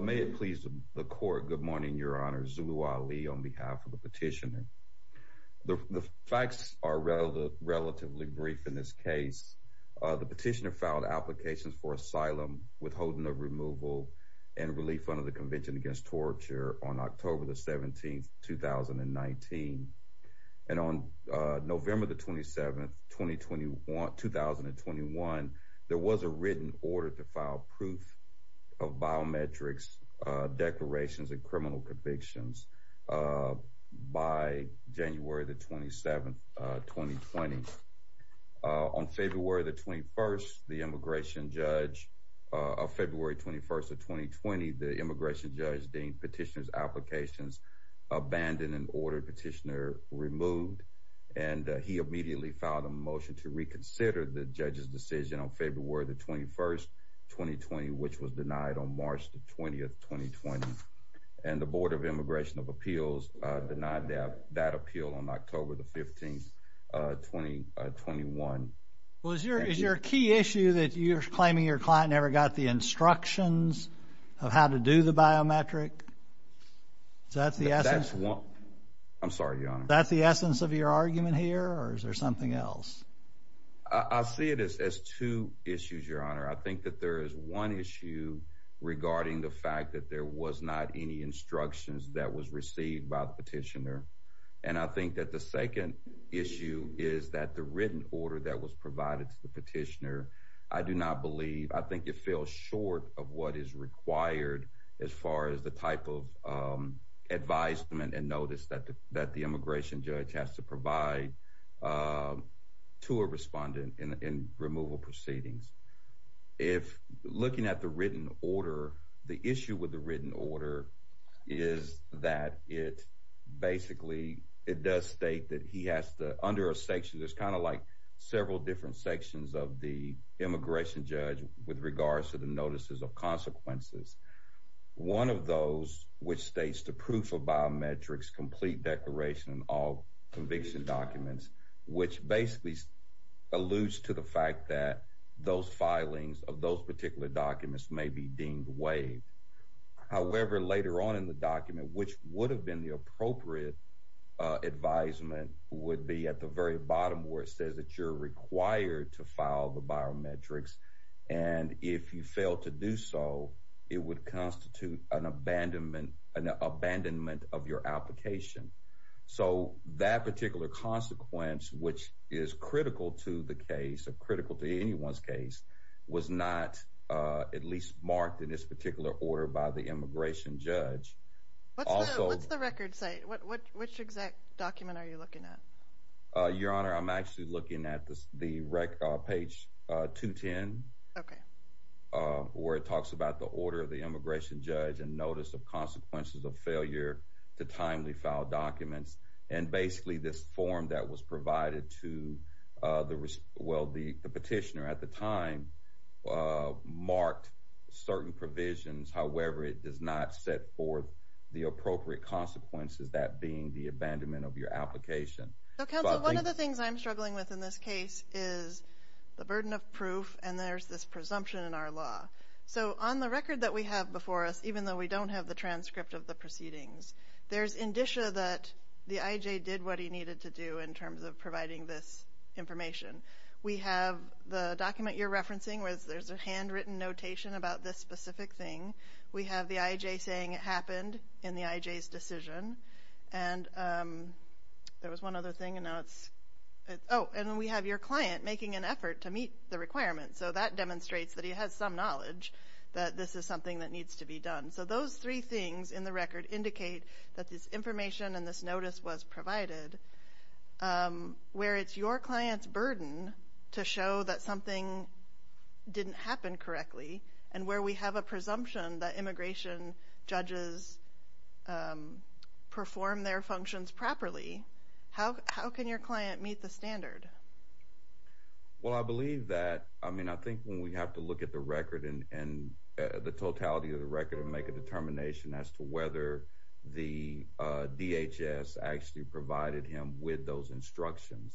May it please the court. Good morning, Your Honor. Zulu Ali on behalf of the petitioner. The facts are relatively brief in this case. The petitioner filed applications for asylum, withholding of removal, and relief under the Convention Against Torture on October 17, 2019. And on November the 27th, 2021, there was a written order to file proof of biometrics, declarations, and criminal convictions by January the 27th, 2020. On February the 21st, the immigration judge of February 21st of 2020, the immigration judge deemed petitioner's applications abandoned and ordered petitioner removed. And he immediately filed a motion to reconsider the judge's decision on February the 21st, 2020, which was denied on March the 20th, 2020. And the Board of Immigration of Appeals denied that appeal on October the 15th, 2021. Well, is your key issue that you're claiming your client never got the instructions of how to do the biometric? Is that the essence? I'm sorry, Your Honor. Is that the essence of your argument here or is there something else? I see it as two issues, Your Honor. I think that there is one issue regarding the fact that there was not any instructions that was received by the petitioner. And I think that the second issue is that the written order falls short of what is required as far as the type of advisement and notice that the immigration judge has to provide to a respondent in removal proceedings. If looking at the written order, the issue with the written order is that it basically it does state that he has to, under a section, there's kind of like several different sections of the immigration judge with regards to the notices of consequences. One of those, which states the proof of biometrics, complete declaration, all conviction documents, which basically alludes to the fact that those filings of those particular documents may be deemed waived. However, later on in the document, which would have been the appropriate advisement would be at the very bottom where it says that you're required to file the biometrics. And if you fail to do so, it would constitute an abandonment of your application. So that particular consequence, which is critical to the case of critical to anyone's case, was not at least marked in this particular order by the immigration judge. What's the record say? Which exact document are you looking at? Your Honor, I'm actually looking at the page 210, where it talks about the order of the immigration judge and notice of consequences of failure to timely file documents. And basically this form that was provided to the petitioner at the time marked certain provisions. However, it does not set forth the appropriate consequences, that being the abandonment of your application. So, counsel, one of the things I'm struggling with in this case is the burden of proof, and there's this presumption in our law. So on the record that we have before us, even though we don't have the transcript of the proceedings, there's indicia that the IJ did what he needed to do in terms of providing this information. We have the document you're referencing, where there's a handwritten notation about this specific thing. We have the IJ saying it happened in the IJ's decision, and there was one other thing, and now it's, oh, and then we have your client making an effort to meet the requirements. So that demonstrates that he has some knowledge that this is something that needs to be done. So those three things in the record indicate that this information and this notice was provided, where it's your client's burden to show that something didn't happen correctly, and where we have a presumption that immigration judges perform their functions properly. How can your client meet the standard? Well, I believe that, I mean, I think when we have to look at the record and the totality of the record and make a determination as to whether the DHS actually provided him with those instructions.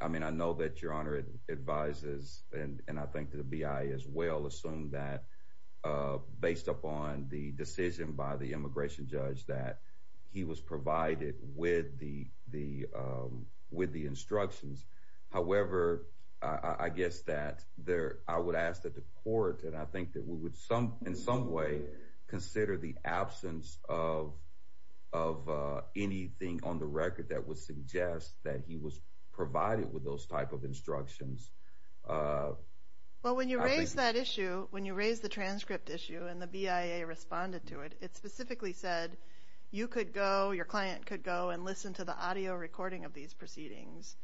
I mean, I know that your Honor advises, and I think the BIA as well, assume that based upon the decision by the immigration judge that he was provided with the instructions. However, I guess that I would ask that the court, and I think that we would in some way consider the absence of anything on the record that would suggest that he was When you raised the transcript issue and the BIA responded to it, it specifically said you could go, your client could go and listen to the audio recording of these proceedings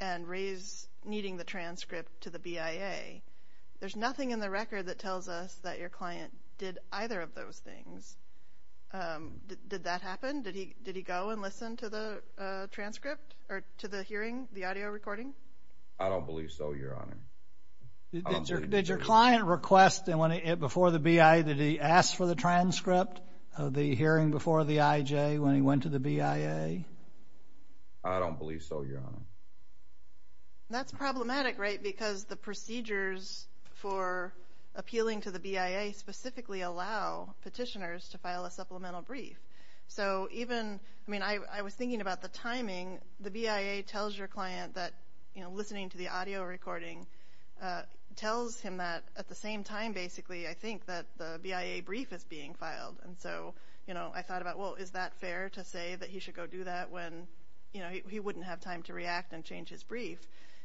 and raise needing the transcript to the BIA. There's nothing in the record that tells us that your client did either of those things. Did that happen? Did he go and listen to the transcript or to the hearing, the audio recording? I don't believe so, your Honor. Did your client request before the BIA, did he ask for the transcript of the hearing before the IJ when he went to the BIA? I don't believe so, your Honor. That's problematic, right, because the procedures for appealing to the BIA specifically allow petitioners to file a supplemental brief. So even, I mean, I was thinking about the timing. The BIA tells your client that listening to the audio recording tells him that at the same time, basically, I think that the BIA brief is being filed. And so I thought about, well, is that fair to say that he should go do that when he wouldn't have time to react and change his brief?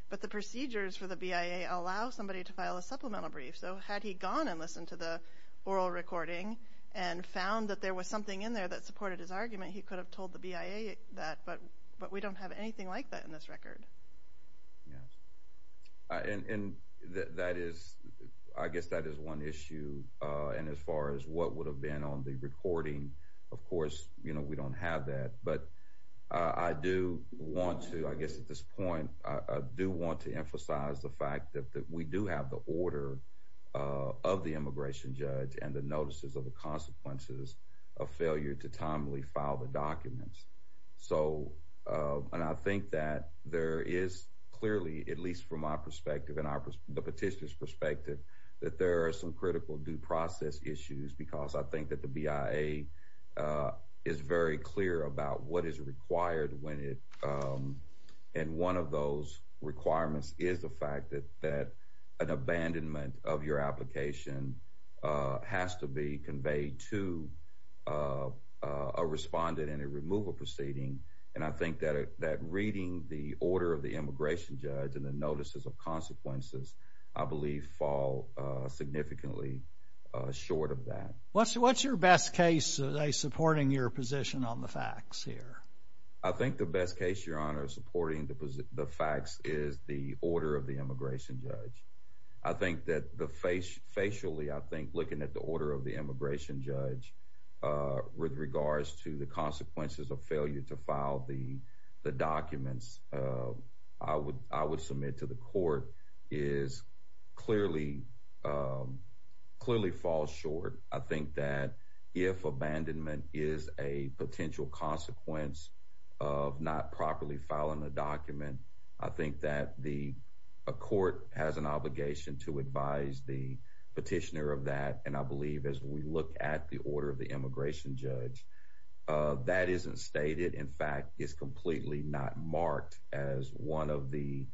But the procedures for the BIA allow somebody to file a supplemental brief. So had he gone and listened to the oral recording and found that there was something in there that supported his argument, he could have told the BIA that. But we don't have anything like that in this record. Yeah. And that is, I guess that is one issue. And as far as what would have been on the recording, of course, we don't have that. But I do want to, I guess at this point, I do want to emphasize the fact that we do have the order of the immigration judge and the notices of the consequences of failure to timely file the documents. So, and I think that there is clearly, at least from my perspective and the petitioner's perspective, that there are some critical due process issues because I think that the BIA is very clear about what is required when it, and one of those requirements is the fact that an abandonment of your application has to be conveyed to a respondent in a removal proceeding. And I think that reading the order of the immigration judge and the notices of consequences, I believe, fall significantly short of that. What's your best case of supporting your position on the facts here? I think the best case, Your Honor, of supporting the facts is the order of immigration judge. I think that the facially, I think looking at the order of the immigration judge with regards to the consequences of failure to file the documents, I would submit to the court is clearly, clearly falls short. I think that if abandonment is a potential consequence of not properly filing a document, I think that the court has an obligation to advise the petitioner of that. And I believe as we look at the order of the immigration judge, that isn't stated. In fact, it's completely not marked as one of the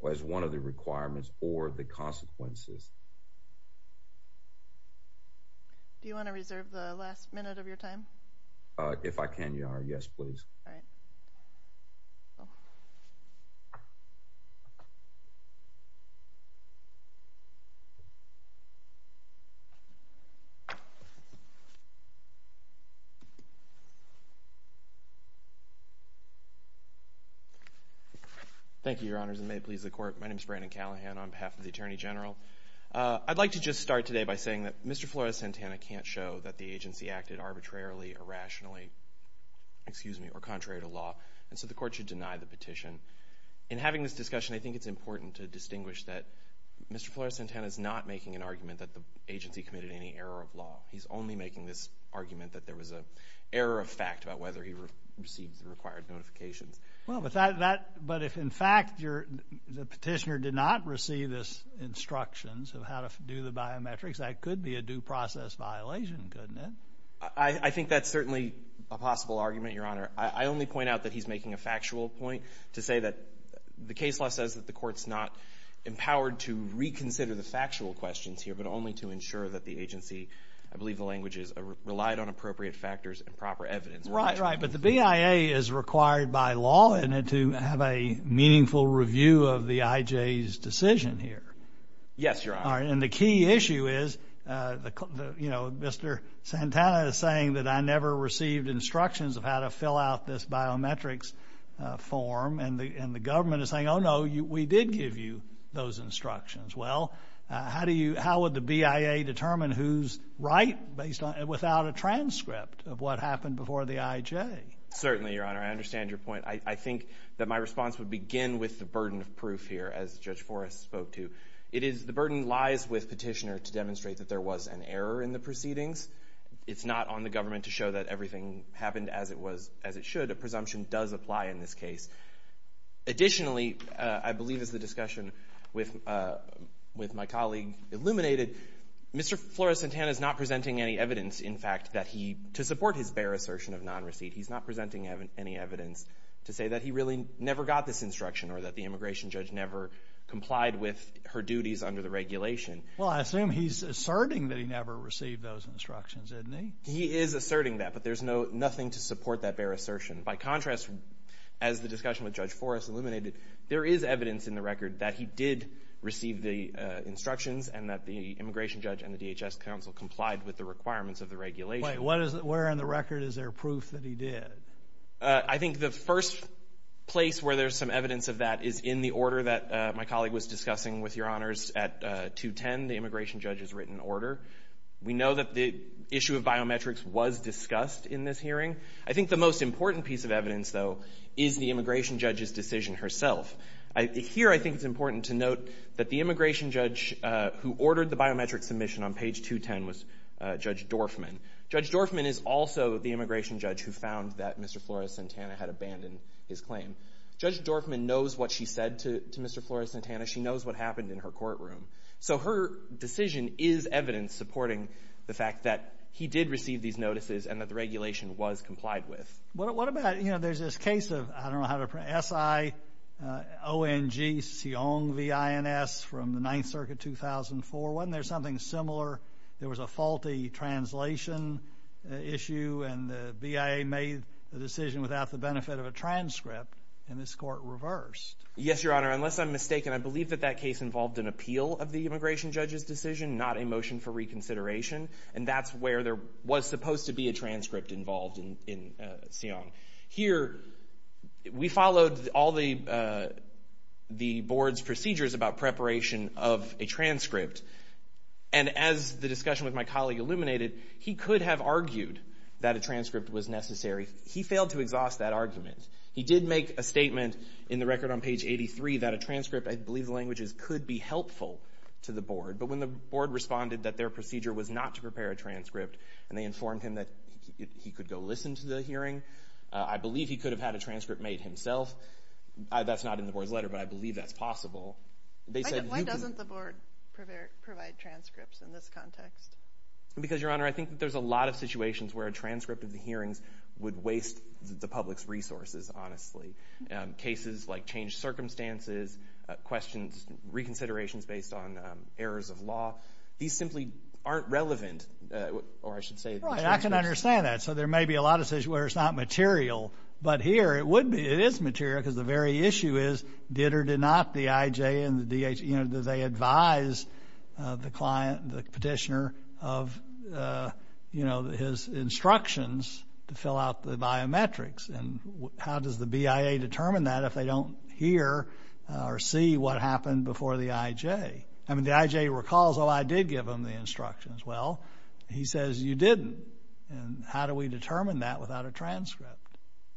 requirements or the consequences. Do you want to reserve the last minute of your time? If I can, Your Honor, yes, please. Thank you, Your Honors, and may it please the court. My name is Brandon Callahan on behalf of the Attorney General. I'd like to just start today by saying that Mr. Flores-Santana can't show that the agency acted arbitrarily, irrationally, excuse me, or contrary to law, and so the court should deny the petition. In having this discussion, I think it's important to distinguish that Mr. Flores-Santana is not making an argument that the agency committed any error of law. He's only making this argument that there was an error of fact about whether he received the required notifications. Well, but if in fact the petitioner did not receive the instructions of how to do the biometrics, that could be a due process violation, couldn't it? I think that's certainly a possible argument, Your Honor. I only point out that he's making a factual point to say that the case law says that the court's not empowered to reconsider the factual questions here, but only to ensure that the agency, I believe the language is, relied on appropriate factors and proper evidence. Right, right, but the BIA is required by law to have a meaningful review of the IJ's decision here. Yes, Your Honor. All right, and the key issue is, you know, Mr. Santana is saying that I never received instructions of how to fill out this biometrics form, and the government is saying, oh no, we did give you those instructions. Well, how would the BIA determine who's right without a transcript of what happened before the IJ? Certainly, Your Honor. I understand your point. I think that my response would begin with the burden of proof here, as Judge Forrest spoke to. It is, the burden lies with petitioner to demonstrate that there was an error in the proceedings. It's not on the government to show that everything happened as it was, as it should. A presumption does apply in this case. Additionally, I believe as the discussion with my colleague illuminated, Mr. Flores Santana is not presenting any evidence, in fact, that he, to support his bare assertion of non-receipt, he's not presenting any evidence to say that he really never got this instruction, or that the immigration judge never complied with her duties under the regulation. Well, I assume he's asserting that he never received those instructions, isn't he? He is asserting that, but there's nothing to support that bare assertion. By contrast, as the discussion with Judge Forrest illuminated, there is evidence in the record that he did instructions and that the immigration judge and the DHS counsel complied with the requirements of the regulation. Wait. What is it? Where on the record is there proof that he did? I think the first place where there's some evidence of that is in the order that my colleague was discussing with Your Honors at 210, the immigration judge's written order. We know that the issue of biometrics was discussed in this hearing. I think the most important piece of evidence, though, is the immigration judge's decision herself. Here I think it's important to note that the immigration judge who ordered the biometric submission on page 210 was Judge Dorfman. Judge Dorfman is also the immigration judge who found that Mr. Flores-Santana had abandoned his claim. Judge Dorfman knows what she said to Mr. Flores-Santana. She knows what happened in her courtroom. So her decision is evidence supporting the fact that he did receive these notices and that the regulation was complied with. What about, you know, there's this case of, I don't know how to, S-I-O-N-G, Siong, V-I-N-S, from the Ninth Circuit, 2004. Wasn't there something similar? There was a faulty translation issue and the BIA made the decision without the benefit of a transcript, and this court reversed. Yes, Your Honor. Unless I'm mistaken, I believe that that case involved an appeal of the immigration judge's decision, not a motion for reconsideration. And that's where there was supposed to be a transcript involved in Siong. Here, we followed all the board's procedures about preparation of a transcript. And as the discussion with my colleague illuminated, he could have argued that a transcript was necessary. He failed to exhaust that argument. He did make a statement in the record on page 83 that a transcript, I believe the language is, could be helpful to the board. But when the board responded that their procedure was not to prepare a transcript and they informed him that he could go listen to the hearing, I believe he could have had a transcript made himself. That's not in the board's letter, but I believe that's possible. Why doesn't the board provide transcripts in this context? Because, Your Honor, I think that there's a lot of situations where a transcript of the hearings would waste the public's resources, honestly. Cases like changed circumstances, questions, reconsiderations based on errors of law, these simply aren't relevant, or I should understand that. So there may be a lot of situations where it's not material. But here, it would be. It is material because the very issue is, did or did not the IJ and the DH, you know, did they advise the client, the petitioner of, you know, his instructions to fill out the biometrics? And how does the BIA determine that if they don't hear or see what happened before the IJ? I mean, the IJ recalls, oh, I did give them the instructions. Well, he says, you didn't. And how do we determine that without a transcript?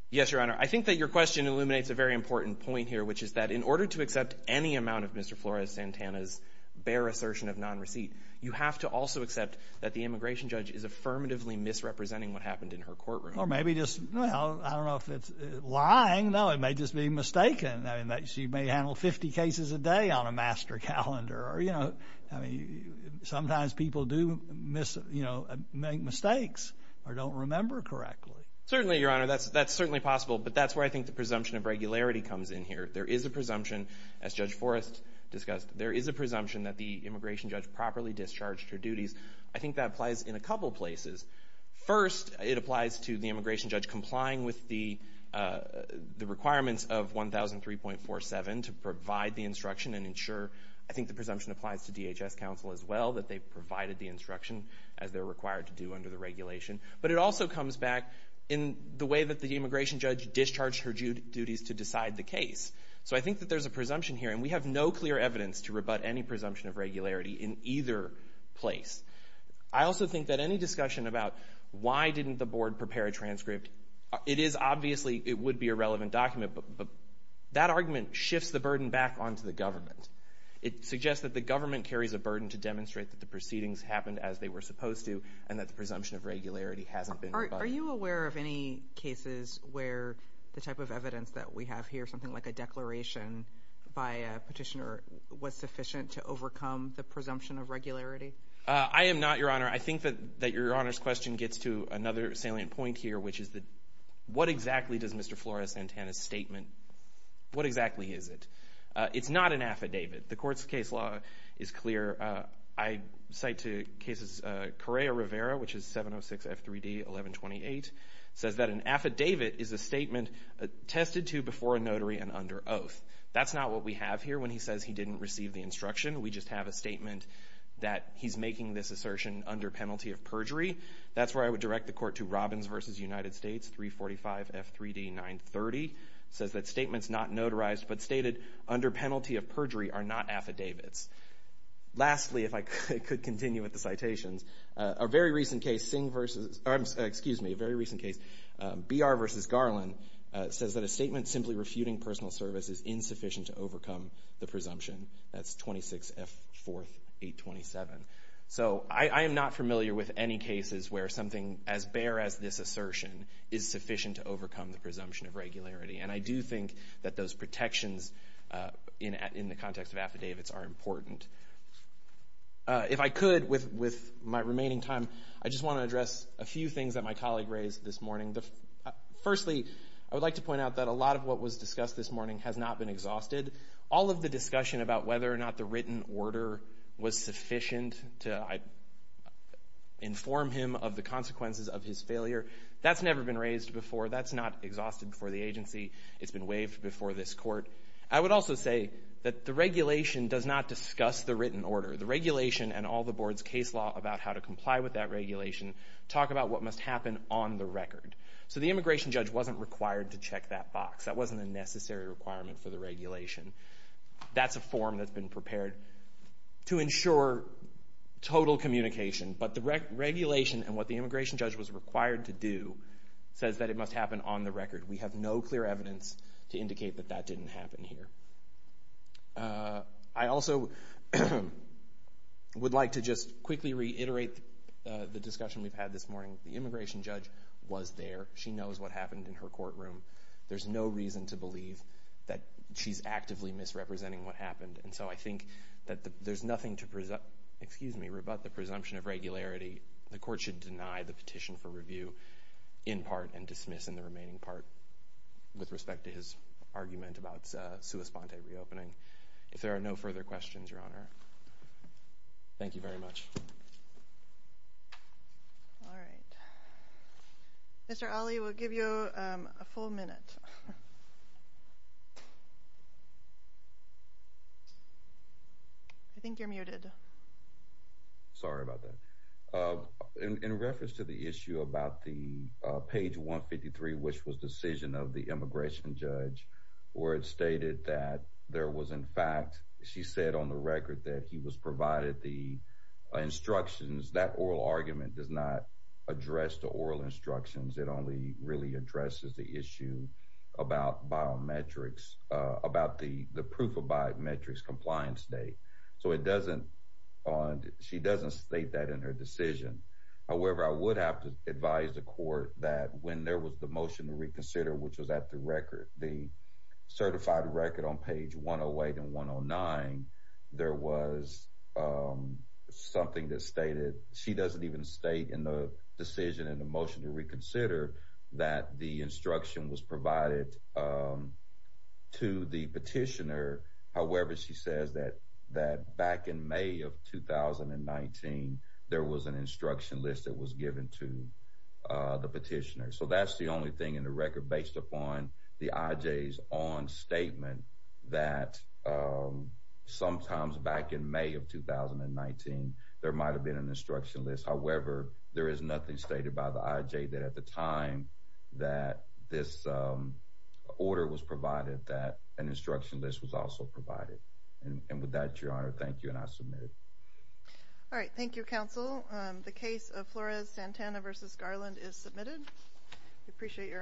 Yes, Your Honor. I think that your question illuminates a very important point here, which is that in order to accept any amount of Mr. Flores Santana's bare assertion of non-receipt, you have to also accept that the immigration judge is affirmatively misrepresenting what happened in her courtroom. Or maybe just, well, I don't know if it's lying. No, it may just be mistaken. I mean, she may handle 50 cases a day on a master calendar or, you know, I mean, sometimes people do miss, you know, make mistakes or don't remember correctly. Certainly, Your Honor, that's certainly possible. But that's where I think the presumption of regularity comes in here. There is a presumption, as Judge Forrest discussed, there is a presumption that the immigration judge properly discharged her duties. I think that applies in a couple places. First, it applies to the immigration judge complying with the requirements of 1003.47 to provide the instruction and ensure, I think the presumption applies to DHS counsel as well, that they provided the instruction as they're required to do under the regulation. But it also comes back in the way that the immigration judge discharged her duties to decide the case. So I think that there's a presumption here, and we have no clear evidence to rebut any presumption of regularity in either place. I also think that any discussion about why didn't the board prepare a transcript, it is obviously, it would be a relevant document. But that argument shifts the burden back onto the government. It suggests that the government carries a burden to demonstrate that the proceedings happened as they were supposed to, and that the presumption of regularity hasn't been rebutted. Are you aware of any cases where the type of evidence that we have here, something like a declaration by a petitioner, was sufficient to overcome the presumption of regularity? I am not, Your Honor. I think that Your Honor's question gets to another salient point here, which is that what exactly does Mr. Flores-Santana's statement, what exactly is it? It's not an affidavit. The court's case law is clear. I cite to cases Correa-Rivera, which is 706 F3D 1128, says that an affidavit is a statement attested to before a notary and under oath. That's not what we have here when he says he didn't receive the instruction. We just have a statement that he's making this assertion under penalty of perjury. That's where I would direct the court to Robbins v. United States, 345 F3D 930, says that statements not notarized but stated under penalty of perjury are not affidavits. Lastly, if I could continue with the citations, a very recent case, Br v. Garland, says that a statement simply refuting personal service is insufficient to overcome the presumption. That's 26 F4 827. So I am not familiar with any cases where something as bare as this assertion is sufficient to overcome the presumption of regularity. And I do think that those protections in the context of affidavits are important. If I could, with my remaining time, I just want to address a few things that my colleague raised this morning. Firstly, I would like to point out that a lot of what was discussed this morning has not been exhausted. All of the discussion about whether or not the written order was sufficient to inform him of the consequences of his failure, that's never been raised before. That's not exhausted before the agency. It's been waived before this court. I would also say that the regulation does not discuss the written order. The regulation and all the board's case law about how to comply with that regulation talk about what must happen on the record. So the immigration judge wasn't required to check that box. That wasn't a necessary requirement for the regulation. That's a form that's been prepared to ensure total communication. But the regulation and what the immigration judge was required to do says that it must happen on the record. We have no clear evidence to indicate that that didn't happen here. I also would like to just quickly reiterate the discussion we've had this morning. The immigration judge was there. She knows what happened. So I think that there's nothing to rebut the presumption of regularity. The court should deny the petition for review in part and dismiss in the remaining part with respect to his argument about sua sponte reopening. If there are no further questions, Your Honor. Thank you very much. Mr. Ali will give you a full minute. I think you're muted. Sorry about that. In reference to the issue about the page 153, which was decision of the immigration judge where it stated that there was in fact, she said on the record that he was provided the instructions that oral argument does not address the oral instructions. It only really addresses the issue about biometrics, about the proof of biometrics compliance date. So it doesn't, she doesn't state that in her decision. However, I would have to advise the court that when there was the motion to reconsider, which was at the record, the certified record on page 108 and 109, there was something that stated, she doesn't even state in the decision and the motion to reconsider that the instruction was provided to the petitioner. However, she says that that back in May of 2019, there was an instruction list that was given to the petitioner. So that's the 2019. There might've been an instruction list. However, there is nothing stated by the IJ that at the time that this order was provided, that an instruction list was also provided. And with that, your honor, thank you. And I submitted. All right. Thank you, counsel. The case of Flores-Santana v. Garland is submitted. We appreciate your arguments.